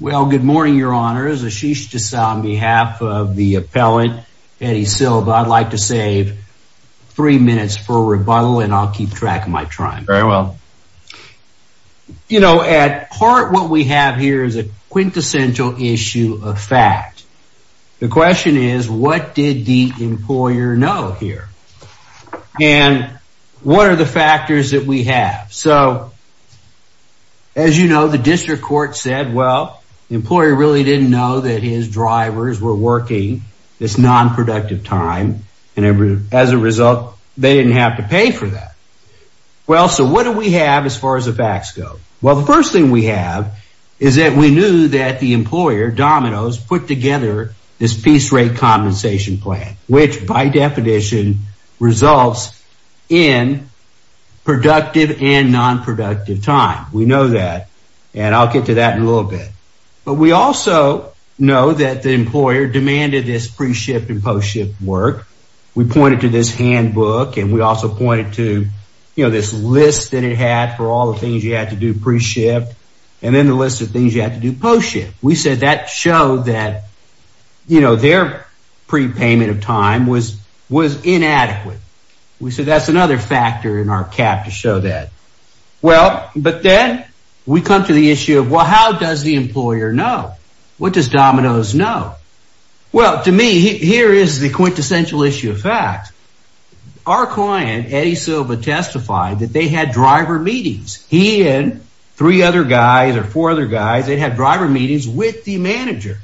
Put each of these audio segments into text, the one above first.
Well, good morning, your honors, Ashish D'Souza on behalf of the appellant Eddie Silva, I'd like to save Three minutes for rebuttal and I'll keep track of my time. Very well You know at heart what we have here is a quintessential issue of fact The question is what did the employer know here? and What are the factors that we have so? As you know, the district court said well the employer really didn't know that his drivers were working It's non-productive time and every as a result. They didn't have to pay for that Well, so what do we have as far as the facts go? Well, the first thing we have is that we knew that the employer Domino's put together this piece rate compensation plan which by definition results in Productive and non-productive time we know that and I'll get to that in a little bit But we also know that the employer demanded this pre-shift and post-shift work We pointed to this handbook and we also pointed to you know This list that it had for all the things you had to do pre-shift And then the list of things you have to do post-shift. We said that showed that You know their Pre-payment of time was was inadequate. We said that's another factor in our cap to show that Well, but then we come to the issue of well, how does the employer know? What does Domino's know? Well to me here is the quintessential issue of fact Our client Eddie Silva testified that they had driver meetings he and three other guys or four other guys They'd have driver meetings with the manager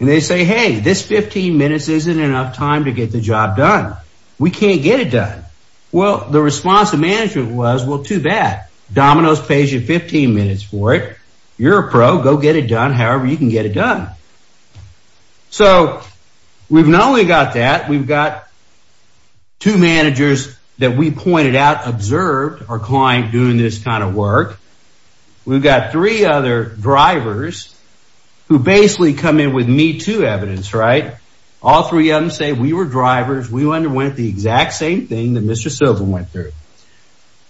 and they say hey this 15 minutes isn't enough time to get the job done We can't get it done. Well, the response of management was well too bad Domino's pays you 15 minutes for it. You're a pro go get it done. However, you can get it done so We've not only got that we've got Two managers that we pointed out observed our client doing this kind of work We've got three other drivers Who basically come in with me to evidence, right? All three of them say we were drivers We wonder when it the exact same thing that mr. Silva went through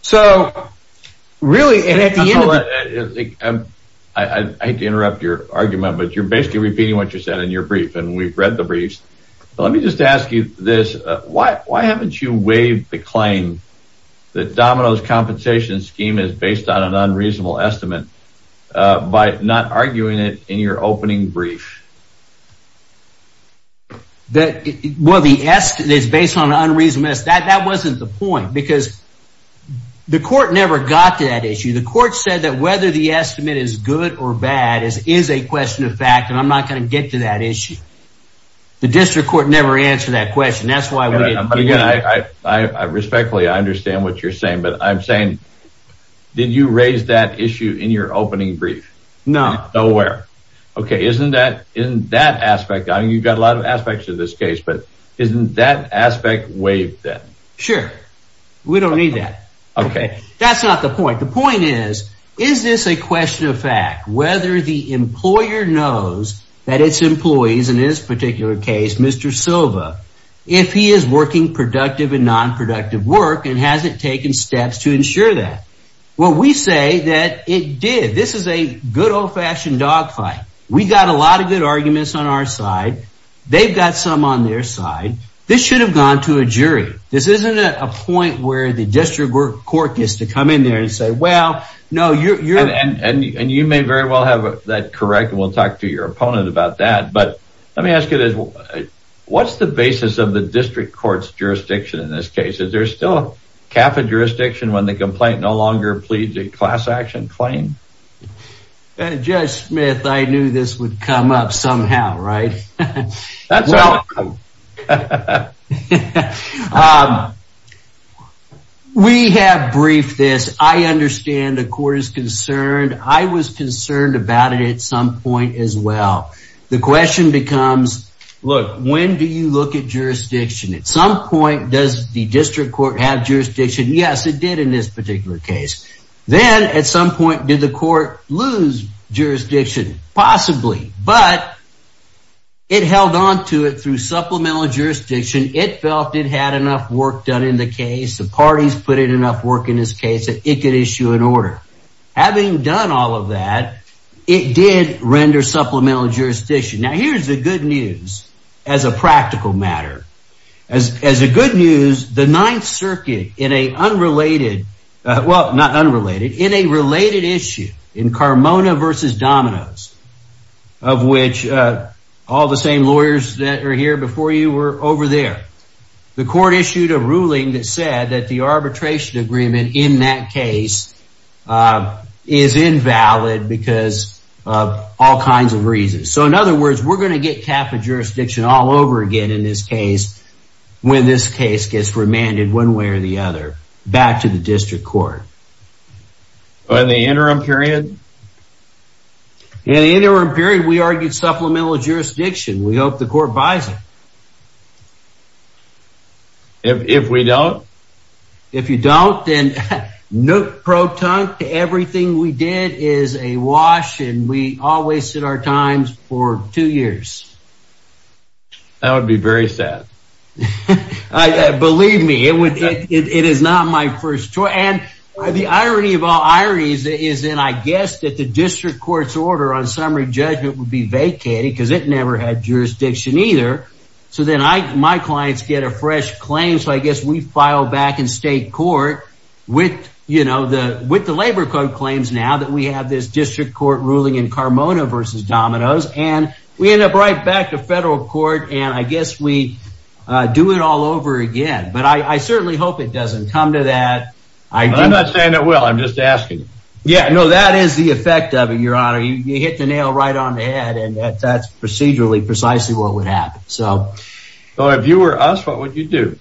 so really and at the end I Hate to interrupt your argument, but you're basically repeating what you said in your brief and we've read the briefs Let me just ask you this. Why why haven't you waived the claim? That Domino's compensation scheme is based on an unreasonable estimate by not arguing it in your opening brief That well the S is based on unreasonable that that wasn't the point because The court never got to that issue The court said that whether the estimate is good or bad is is a question of fact and I'm not going to get to that issue The district court never answered that question. That's why we I Respectfully, I understand what you're saying, but I'm saying Did you raise that issue in your opening brief? No nowhere? Okay, isn't that in that aspect? I mean you've got a lot of aspects in this case But isn't that aspect waived that sure we don't need that. Okay, that's not the point The point is is this a question of fact whether the employer knows that its employees in this particular case? Mr. Silva if he is working productive and non-productive work and hasn't taken steps to ensure that Well, we say that it did. This is a good old-fashioned dogfight. We got a lot of good arguments on our side They've got some on their side. This should have gone to a jury This isn't a point where the district court gets to come in there and say well No, you're and and you may very well have that correct and we'll talk to your opponent about that Let me ask you this What's the basis of the district courts jurisdiction in this case? Is there still a cafe jurisdiction when the complaint no longer pleads a class-action claim? Judge Smith, I knew this would come up somehow, right? We have briefed this I understand the court is concerned I was concerned about it at some point as well the question becomes Look, when do you look at jurisdiction at some point? Does the district court have jurisdiction? Yes, it did in this particular case then at some point. Did the court lose? jurisdiction possibly but It held on to it through supplemental jurisdiction It felt it had enough work done in the case the parties put in enough work in this case that it could issue an order Having done all of that it did render supplemental jurisdiction now Here's the good news as a practical matter as as a good news the Ninth Circuit in a unrelated well, not unrelated in a related issue in Carmona versus Domino's of which All the same lawyers that are here before you were over there The court issued a ruling that said that the arbitration agreement in that case Is invalid because of all kinds of reasons So in other words, we're going to get cap of jurisdiction all over again in this case When this case gets remanded one way or the other back to the district court by the interim period In the interim period we argued supplemental jurisdiction. We hope the court buys it If we don't If you don't then no Proton to everything we did is a wash and we all wasted our times for two years That would be very sad Believe me it would it is not my first choice and the irony of all ironies Is then I guess that the district courts order on summary judgment would be vacated because it never had jurisdiction either So then I my clients get a fresh claim So I guess we file back in state court with you know the with the labor code claims now that we have this district court ruling in Carmona versus Domino's and we end up right back to federal court and I guess we Do it all over again, but I certainly hope it doesn't come to that. I'm not saying it will I'm just asking Yeah, no, that is the effect of it. Your honor. You hit the nail right on the head and that's procedurally precisely What would happen? So so if you were us, what would you do?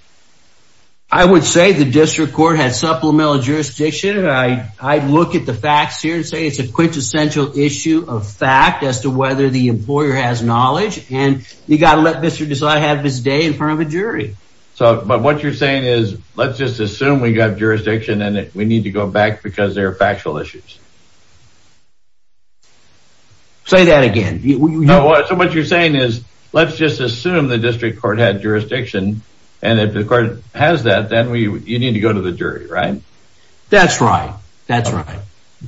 I Would say the district court had supplemental jurisdiction I I'd look at the facts here and say it's a quintessential issue of fact as to whether the employer has knowledge and You got to let mr. Desai have his day in front of a jury So but what you're saying is let's just assume we got jurisdiction in it. We need to go back because there are factual issues Say that again What you're saying is let's just assume the district court had jurisdiction and if the court has that then we you need to go to The jury, right? That's right. That's right.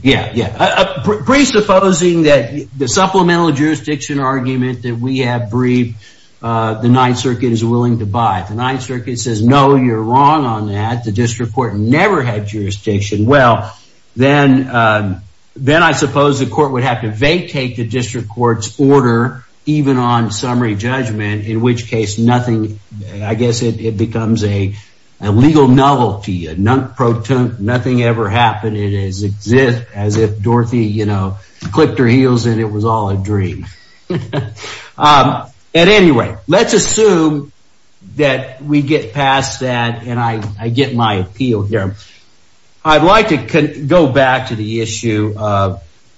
Yeah. Yeah Presupposing that the supplemental jurisdiction argument that we have briefed The Ninth Circuit is willing to buy the Ninth Circuit says no you're wrong on that. The district court never had jurisdiction well, then Then I suppose the court would have to vacate the district courts order even on summary judgment in which case nothing I guess it becomes a Legal novelty a non-protein nothing ever happened. It is exist as if Dorothy, you know Clipped her heels and it was all a dream And anyway, let's assume That we get past that and I I get my appeal here I'd like to go back to the issue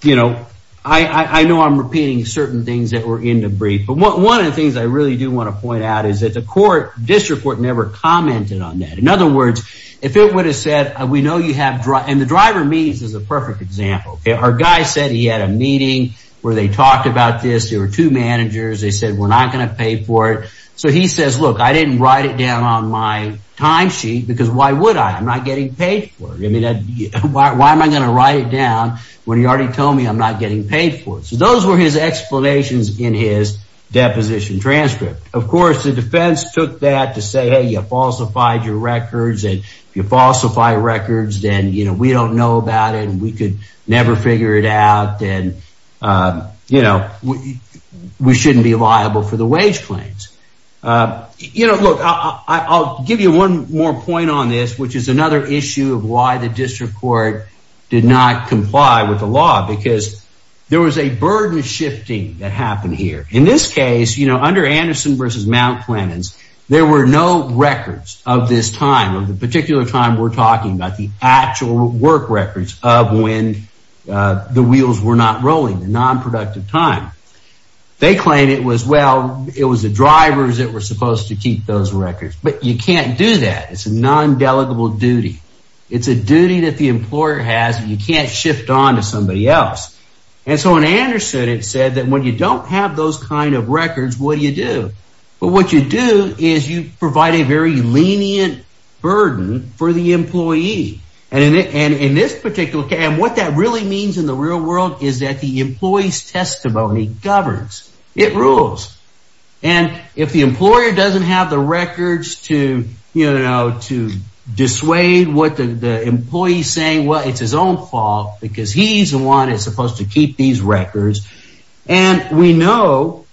You know, I I know I'm repeating certain things that were in the brief But what one of the things I really do want to point out is that the court district court never Commented on that in other words if it would have said we know you have dry and the driver means is a perfect example Okay, our guy said he had a meeting where they talked about this. There were two managers They said we're not gonna pay for it He says look I didn't write it down on my time sheet because why would I I'm not getting paid for it I mean that why am I gonna write it down when he already told me I'm not getting paid for it So those were his explanations in his Deposition transcript, of course the defense took that to say Hey, you falsified your records and if you falsify records, then you know we don't know about it and we could never figure it out and You know We shouldn't be liable for the wage claims You know, look, I'll give you one more point on this which is another issue of why the district court did not comply with the law because There was a burden shifting that happened here in this case, you know under Anderson versus Mount Clemens there were no records of this time of the particular time we're talking about the actual work records of when The wheels were not rolling the non-productive time They claim it was well, it was the drivers that were supposed to keep those records, but you can't do that It's a non delegable duty It's a duty that the employer has and you can't shift on to somebody else And so in Anderson, it said that when you don't have those kind of records, what do you do? But what you do is you provide a very lenient Burden for the employee and in it and in this particular Okay, and what that really means in the real world is that the employees testimony governs it rules and if the employer doesn't have the records to you know to dissuade what the Employees saying well, it's his own fault because he's the one is supposed to keep these records and we know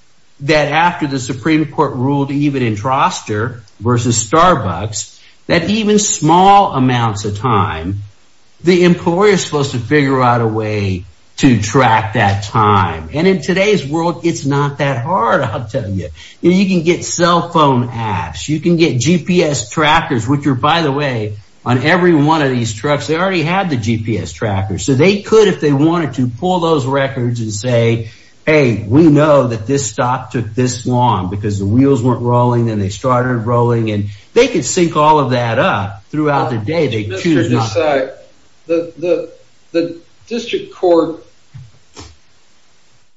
that after the Supreme Court ruled even in Troster versus Starbucks that even small amounts of time The employer is supposed to figure out a way to track that time and in today's world. It's not that hard I'll tell you you can get cell phone apps You can get GPS trackers, which are by the way on every one of these trucks. They already had the GPS tracker So they could if they wanted to pull those records and say hey We know that this stock took this long because the wheels weren't rolling and they started rolling and they could sink all of that up throughout the day they the district court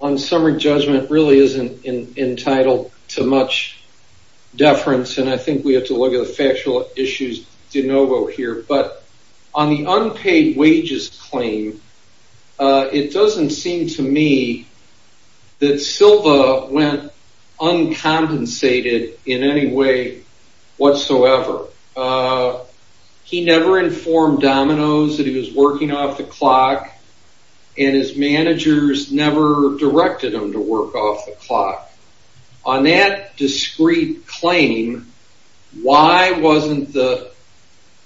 On summer judgment really isn't in entitled to much Deference and I think we have to look at the factual issues de novo here, but on the unpaid wages claim It doesn't seem to me That Silva went Uncompensated in any way whatsoever He never informed Domino's that he was working off the clock and His managers never directed him to work off the clock on that discreet claim why wasn't the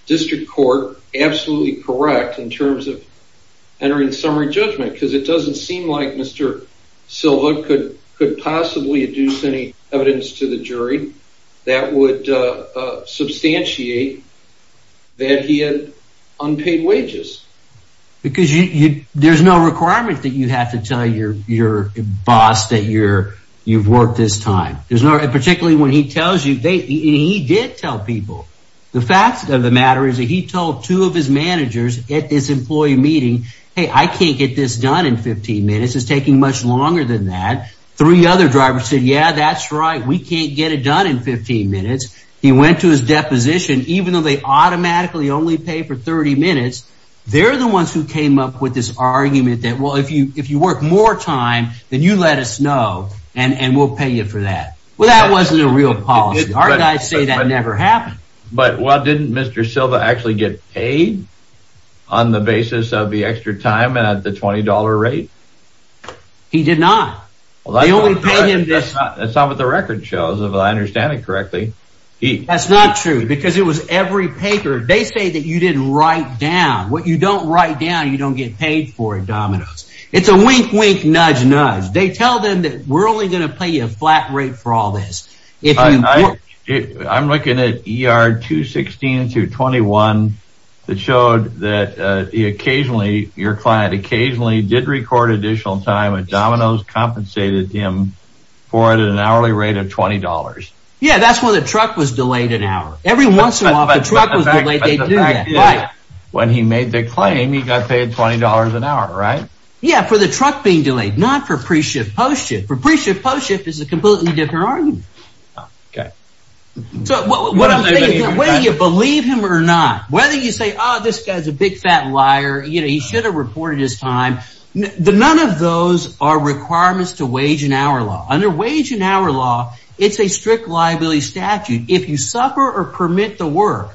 District Court absolutely correct in terms of entering summary judgment because it doesn't seem like mr Silva could could possibly adduce any evidence to the jury that would Substantiate that he had unpaid wages Because you there's no requirement that you have to tell your your boss that you're you've worked this time There's no particularly when he tells you they he did tell people The facts of the matter is that he told two of his managers at this employee meeting Hey, I can't get this done in 15 minutes is taking much longer than that three other drivers said yeah, that's right We can't get it done in 15 minutes. He went to his deposition even though they automatically only pay for 30 minutes They're the ones who came up with this argument that well if you if you work more time Then you let us know and and we'll pay you for that. Well, that wasn't a real policy I say that never happened. But what didn't mr. Silva actually get paid on The basis of the extra time and at the $20 rate He did not well, I only paid him this that's not what the record shows if I understand it correctly He that's not true because it was every paper They say that you didn't write down what you don't write down. You don't get paid for it dominoes It's a wink wink nudge nudge. They tell them that we're only gonna pay you a flat rate for all this I'm looking at er 216 to 21 That showed that Occasionally your client occasionally did record additional time with dominoes compensated him for it at an hourly rate of $20 Yeah, that's when the truck was delayed an hour every once in a while When he made the claim he got paid $20 an hour, right? Yeah for the truck being delayed not for pre-shift post-shift for pre-shift post-shift is a completely different argument Okay So what I'm saying the way you believe him or not whether you say oh this guy's a big fat liar You know, he should have reported his time The none of those are requirements to wage an hour law under wage an hour law It's a strict liability statute if you suffer or permit the work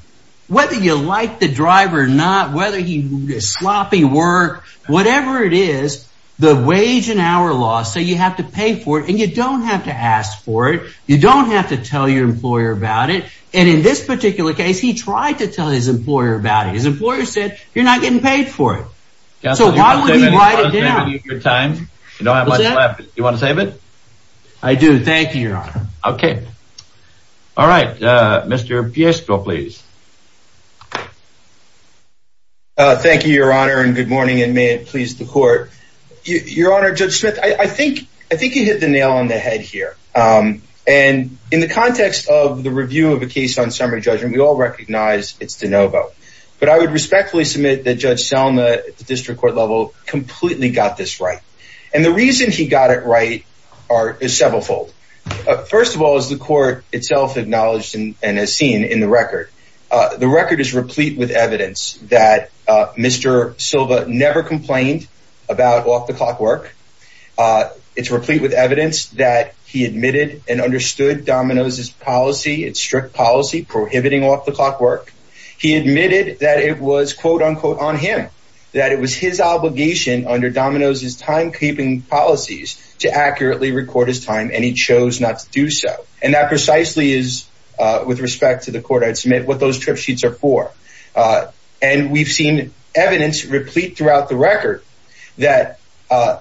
Whether you like the driver or not, whether he is sloppy work, whatever it is the wage an hour loss So you have to pay for it and you don't have to ask for it You don't have to tell your employer about it And in this particular case, he tried to tell his employer about it. His employer said you're not getting paid for it So why would he write it down? Your time you don't have much left. You want to save it? I do. Thank you, Your Honor. Okay All right, Mr. Piesto, please Thank you, Your Honor and good morning and may it please the court Your honor judge Smith. I think I think you hit the nail on the head here And in the context of the review of a case on summary judgment, we all recognize it's DeNovo But I would respectfully submit that Judge Selma at the district court level Completely got this right and the reason he got it, right are is several fold First of all is the court itself acknowledged and as seen in the record. The record is replete with evidence that Mr. Silva never complained about off-the-clock work It's replete with evidence that he admitted and understood Domino's his policy It's strict policy prohibiting off-the-clock work He admitted that it was quote-unquote on him that it was his obligation under Domino's his timekeeping policies to accurately record his time and he chose not to do so and that precisely is With respect to the court, I'd submit what those trip sheets are for And we've seen evidence replete throughout the record that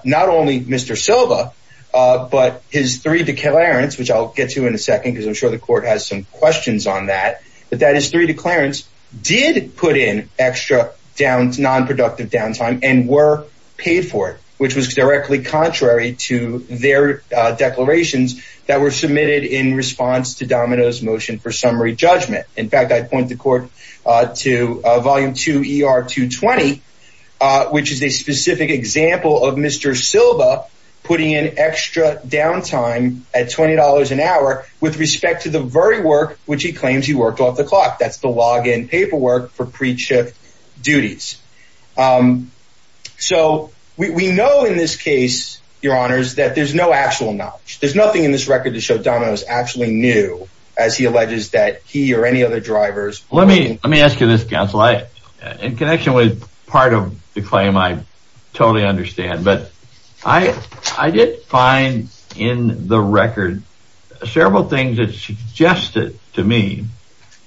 Not only mr. Silva But his three declarants, which I'll get to in a second because I'm sure the court has some questions on that But that is three declarants did put in extra downs non-productive downtime and were paid for it Which was directly contrary to their Declarations that were submitted in response to Domino's motion for summary judgment. In fact, I'd point the court to volume 2 ER 220 Which is a specific example of mr. Silva putting in extra downtime at $20 an hour With respect to the very work, which he claims he worked off the clock. That's the login paperwork for pre-chip duties So we know in this case your honors that there's no actual knowledge There's nothing in this record to show Domino's actually knew as he alleges that he or any other drivers Let me let me ask you this counsel I in connection with part of the claim I totally understand but I I did find in the record several things that Suggested to me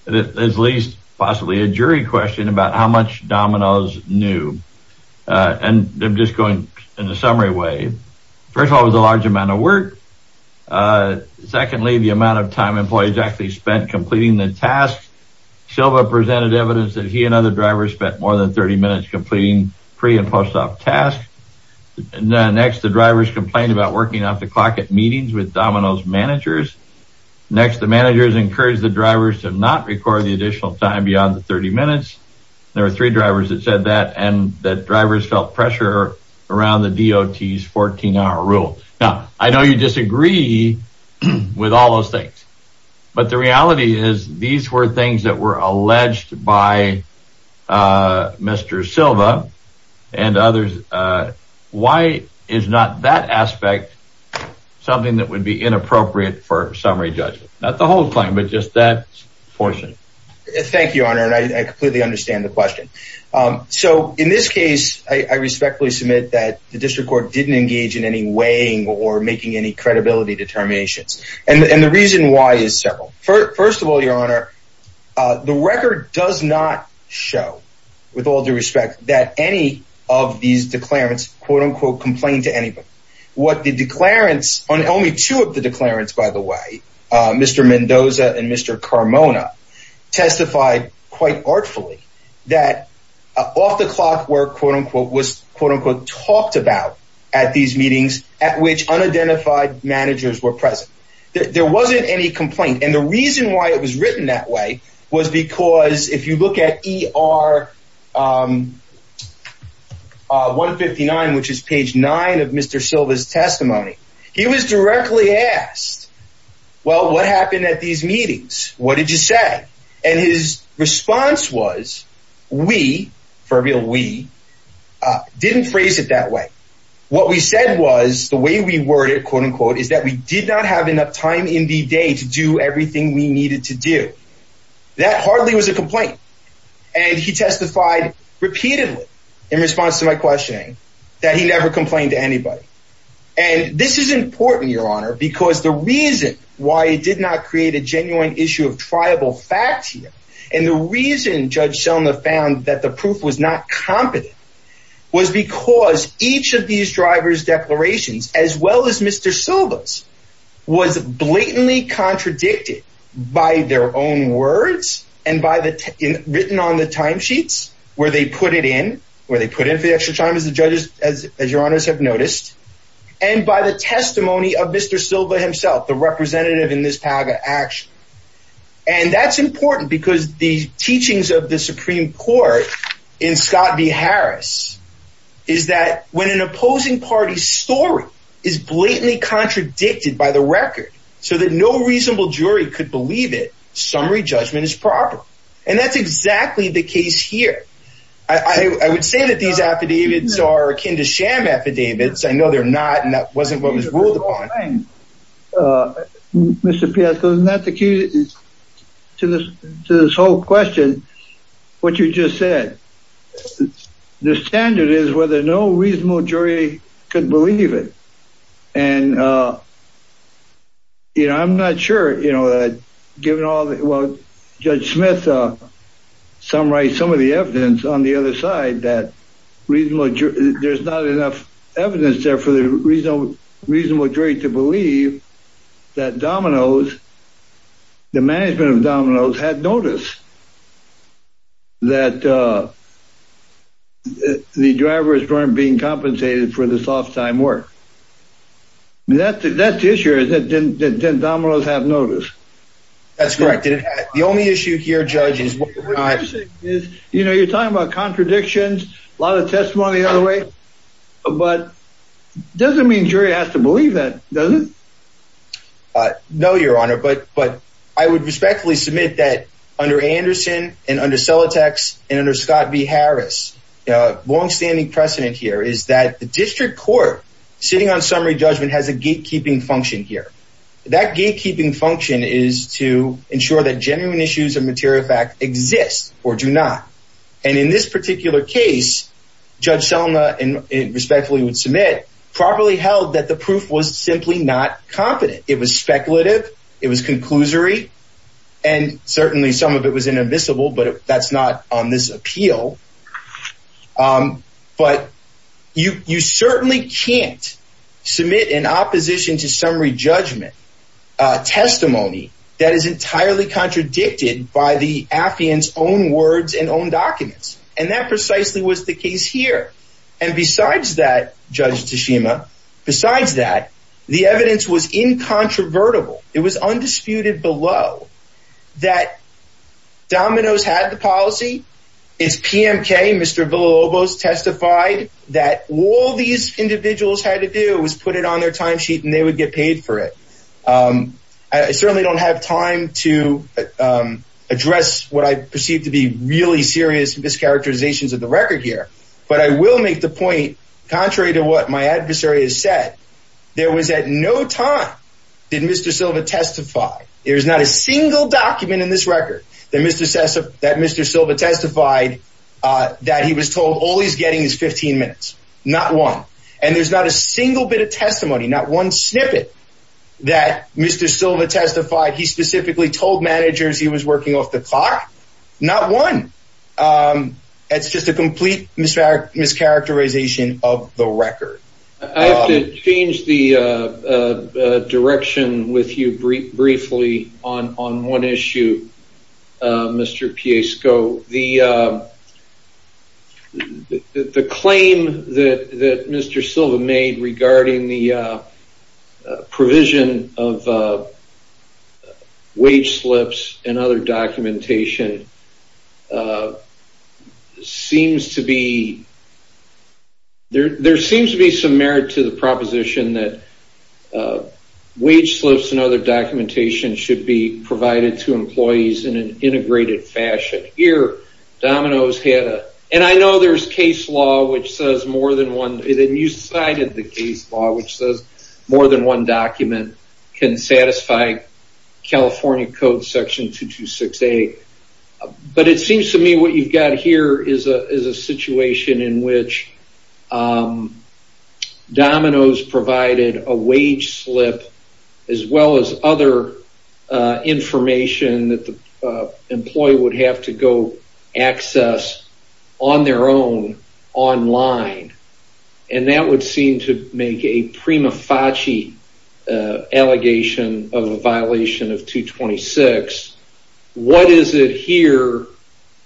that as least possibly a jury question about how much Domino's knew And I'm just going in a summary way. First of all was a large amount of work Secondly the amount of time employees actually spent completing the task Silva presented evidence that he and other drivers spent more than 30 minutes completing pre and post-op tasks Next the drivers complained about working off the clock at meetings with Domino's managers Next the managers encouraged the drivers to not record the additional time beyond the 30 minutes There are three drivers that said that and that drivers felt pressure around the DOT's 14-hour rule now I know you disagree with all those things but the reality is these were things that were alleged by Mr. Silva and others why is not that aspect something that would be inappropriate for summary judgment not the whole claim but just that portion Thank you honor and I completely understand the question So in this case I respectfully submit that the district court didn't engage in any weighing or making any credibility determinations And the reason why is several first of all your honor The record does not show with all due respect that any of these declarants quote-unquote complained to anybody What the declarants on only two of the declarants by the way? Mr. Mendoza and mr. Carmona Testified quite artfully that Off the clock work quote-unquote was quote-unquote talked about at these meetings at which unidentified Managers were present. There wasn't any complaint. And the reason why it was written that way was because if you look at er 159 which is page 9 of mr. Silva's testimony. He was directly asked Well, what happened at these meetings? What did you say? and his response was We for a real we Didn't phrase it that way What we said was the way we worded quote-unquote is that we did not have enough time in the day to do everything We needed to do That hardly was a complaint and he testified Repeatedly in response to my questioning that he never complained to anybody and this is important your honor Because the reason why it did not create a genuine issue of tribal facts here And the reason judge Selma found that the proof was not competent Was because each of these drivers declarations as well as mr. Silva's was blatantly contradicted by their own words and by the written on the timesheets where they put it in where they put in the extra time as the judges as your honors have noticed and by the testimony of mr. Silva himself the representative in this paga action and That's important because the teachings of the Supreme Court in Scott v. Harris is That when an opposing party story is blatantly Contradicted by the record so that no reasonable jury could believe it summary judgment is proper and that's exactly the case here I I would say that these affidavits are akin to sham affidavits I know they're not and that wasn't what was ruled upon Mr. Piazza, that's the key to this to this whole question what you just said the standard is whether no reasonable jury could believe it and You know, I'm not sure you know that given all that well judge Smith Summarize some of the evidence on the other side that Reason what there's not enough evidence there for the reason reasonable jury to believe that dominoes the management of dominoes had noticed That The drivers weren't being compensated for the soft time work That that tissue is that didn't didn't dominoes have noticed That's corrected the only issue here judges You know, you're talking about contradictions a lot of testimony the other way but Doesn't mean jury has to believe that doesn't Know your honor, but but I would respectfully submit that under Anderson and under sell attacks and under Scott v. Harris Long-standing precedent here is that the district court sitting on summary judgment has a gatekeeping function here that gatekeeping Function is to ensure that genuine issues of material fact exist or do not and in this particular case Judge Selma and respectfully would submit properly held that the proof was simply not competent. It was speculative it was conclusory and Certainly some of it was inadmissible, but that's not on this appeal But you you certainly can't submit an opposition to summary judgment Testimony that is entirely contradicted by the affian's own words and own documents and that precisely was the case here and Besides that judge Tashima besides that the evidence was incontrovertible. It was undisputed below that Dominoes had the policy. It's PMK. Mr Villalobos testified that all these individuals had to do was put it on their timesheet and they would get paid for it I certainly don't have time to Address what I perceive to be really serious mischaracterizations of the record here But I will make the point contrary to what my adversary has said there was at no time Did mr. Silva testify there's not a single document in this record that mr. Sessa that mr. Silva testified That he was told all he's getting is 15 minutes not one and there's not a single bit of testimony not one snippet That mr. Silva testified he specifically told managers he was working off the clock not one It's just a complete misfire mischaracterization of the record change the Direction with you brief briefly on on one issue mr. P a scope the The claim that that mr. Silva made regarding the Provision of Wage slips and other documentation Seems to be There there seems to be some merit to the proposition that Wage slips and other documentation should be provided to employees in an integrated fashion here Dominoes had a and I know there's case law which says more than one Decided the case law which says more than one document can satisfy California Code section 226 a but it seems to me what you've got here is a situation in which Dominoes provided a wage slip as well as other Information that the employee would have to go access on their own online And that would seem to make a prima facie Allegation of a violation of 226 What is it here?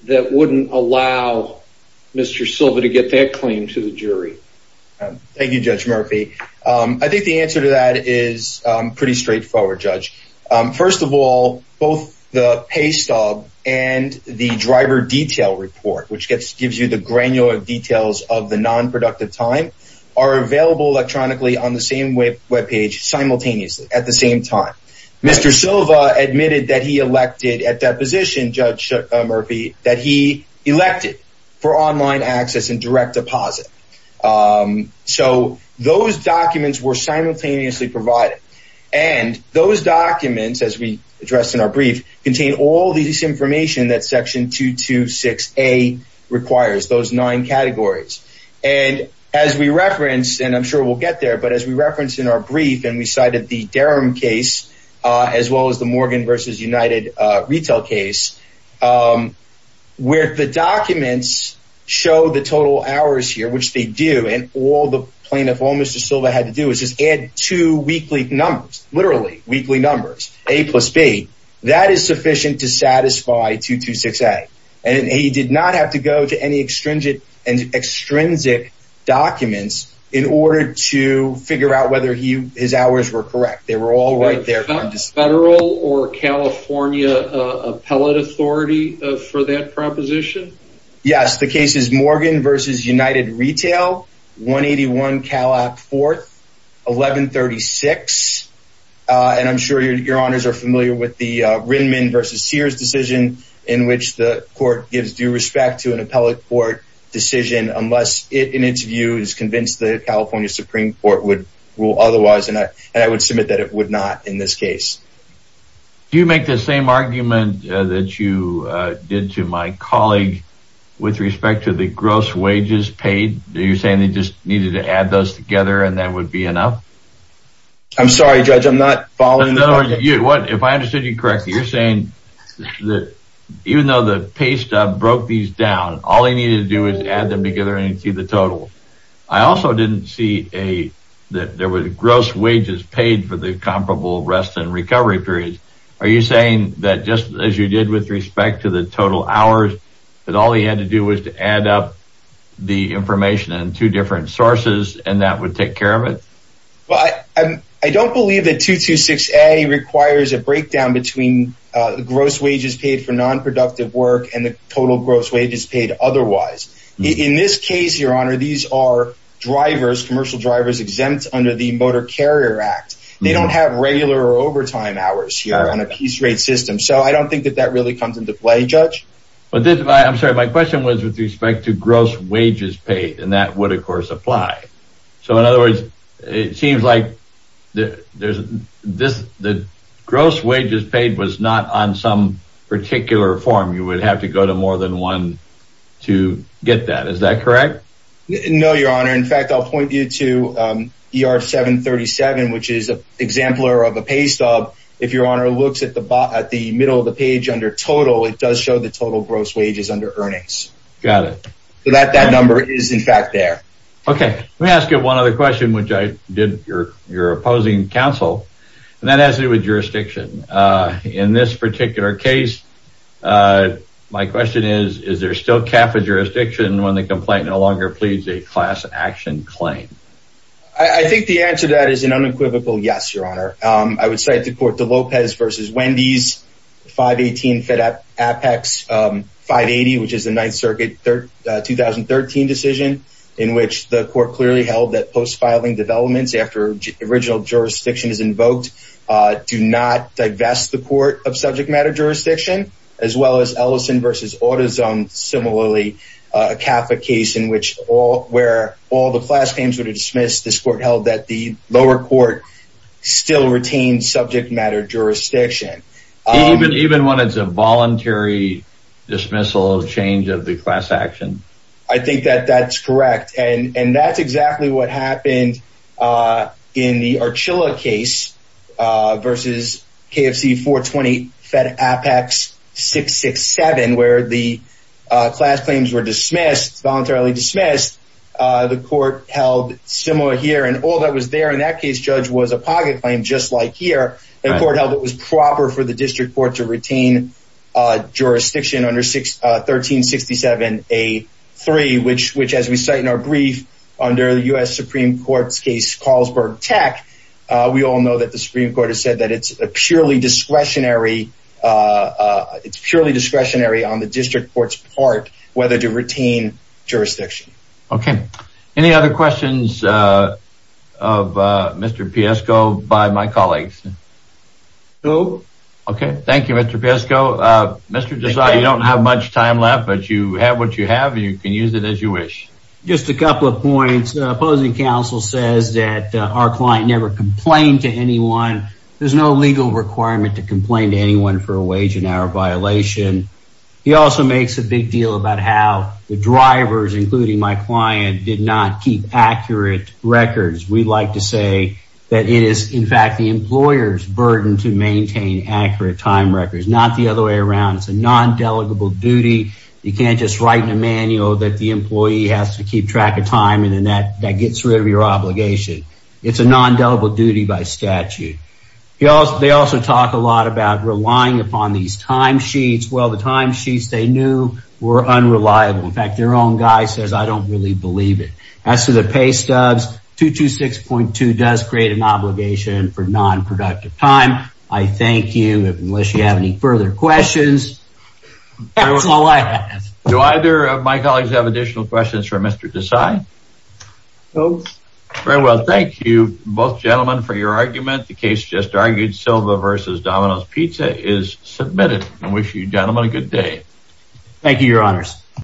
That wouldn't allow Mr. Silva to get that claim to the jury Thank You judge Murphy, I think the answer to that is pretty straightforward judge first of all both the pay stub and The driver detail report which gets gives you the granular details of the non-productive time Available electronically on the same web page simultaneously at the same time. Mr Silva admitted that he elected at that position judge Murphy that he elected for online access and direct deposit so those documents were simultaneously provided and Those documents as we addressed in our brief contain all these information that section two to six a Requires those nine categories and as we referenced and I'm sure we'll get there But as we referenced in our brief and we cited the Durham case as well as the Morgan versus United retail case Where the documents Show the total hours here, which they do and all the plaintiff all mr Silva had to do is just add two weekly numbers literally weekly numbers a plus B That is sufficient to satisfy two to six a and he did not have to go to any extrinsic and Extrinsic documents in order to figure out whether he his hours were correct. They were all right there federal or California Appellate authority for that proposition. Yes, the case is Morgan versus United retail 181 Cal app 4th 1136 And I'm sure your honors are familiar with the Rindman versus Sears decision in which the court gives due respect to an appellate court Decision unless it in its view is convinced the California Supreme Court would rule otherwise and I and I would submit that it would not in this case Do you make the same argument that you did to my colleague? With respect to the gross wages paid. Are you saying they just needed to add those together and that would be enough? I'm sorry judge. I'm not following. No you what if I understood you correctly you're saying That even though the paste up broke these down. All I needed to do is add them together and see the total I also didn't see a that there was gross wages paid for the comparable rest and recovery periods Are you saying that just as you did with respect to the total hours? But all he had to do was to add up the information and two different sources and that would take care of it But I don't believe that two to six a requires a breakdown between The gross wages paid for non-productive work and the total gross wages paid. Otherwise in this case your honor These are drivers commercial drivers exempt under the Motor Carrier Act They don't have regular or overtime hours here on a piece rate system So I don't think that that really comes into play judge But this I'm sorry, my question was with respect to gross wages paid and that would of course apply So in other words, it seems like There's this the gross wages paid was not on some particular form You would have to go to more than one to get that. Is that correct? No, your honor in fact, I'll point you to er 737 which is a Exemplar of a paste up if your honor looks at the bottom at the middle of the page under total It does show the total gross wages under earnings. Got it. So that that number is in fact there Okay, let me ask you one other question, which I did your your opposing counsel and that has to do with jurisdiction in this particular case My question is is there still Kappa jurisdiction when the complaint no longer pleads a class action claim? I Think the answer to that is an unequivocal. Yes, your honor. I would say to court the Lopez versus Wendy's 518 FedEx 580 which is the 9th Circuit third 2013 decision in which the court clearly held that post filing developments after original jurisdiction is invoked Do not divest the court of subject matter jurisdiction as well as Ellison versus autism Similarly a Catholic case in which all where all the class claims were dismissed this court held that the lower court still retained subject matter jurisdiction Even when it's a voluntary dismissal of change of the class action I think that that's correct. And and that's exactly what happened in the Archila case versus KFC 420 Fed Apex 667 where the Class claims were dismissed voluntarily dismissed The court held similar here and all that was there in that case judge was a pocket claim Just like here the court held it was proper for the district court to retain Jurisdiction under six 1367 a three which which as we cite in our brief under the US Supreme Court's case Carlsberg tech We all know that the Supreme Court has said that it's a purely discretionary It's purely discretionary on the district courts part whether to retain Jurisdiction. Okay, any other questions of Mr. Piesko by my colleagues No, okay. Thank you. Mr. Piesko. Mr. Desai you don't have much time left, but you have what you have you can use it as you wish Just a couple of points opposing counsel says that our client never complained to anyone There's no legal requirement to complain to anyone for a wage and hour violation He also makes a big deal about how the drivers including my client did not keep accurate records We'd like to say that it is in fact the employers burden to maintain accurate time records not the other way around It's a non-delegable duty You can't just write in a manual that the employee has to keep track of time and then that that gets rid of your obligation It's a non-delegable duty by statute He also they also talk a lot about relying upon these time sheets. Well the time sheets they knew were unreliable In fact their own guy says I don't really believe it as to the pay stubs 226.2 does create an obligation for non-productive time. I thank you unless you have any further questions Do either of my colleagues have additional questions for mr. Desai Nope, very well. Thank you both gentlemen for your argument The case just argued Silva versus Domino's Pizza is submitted and wish you gentlemen a good day Thank you your honors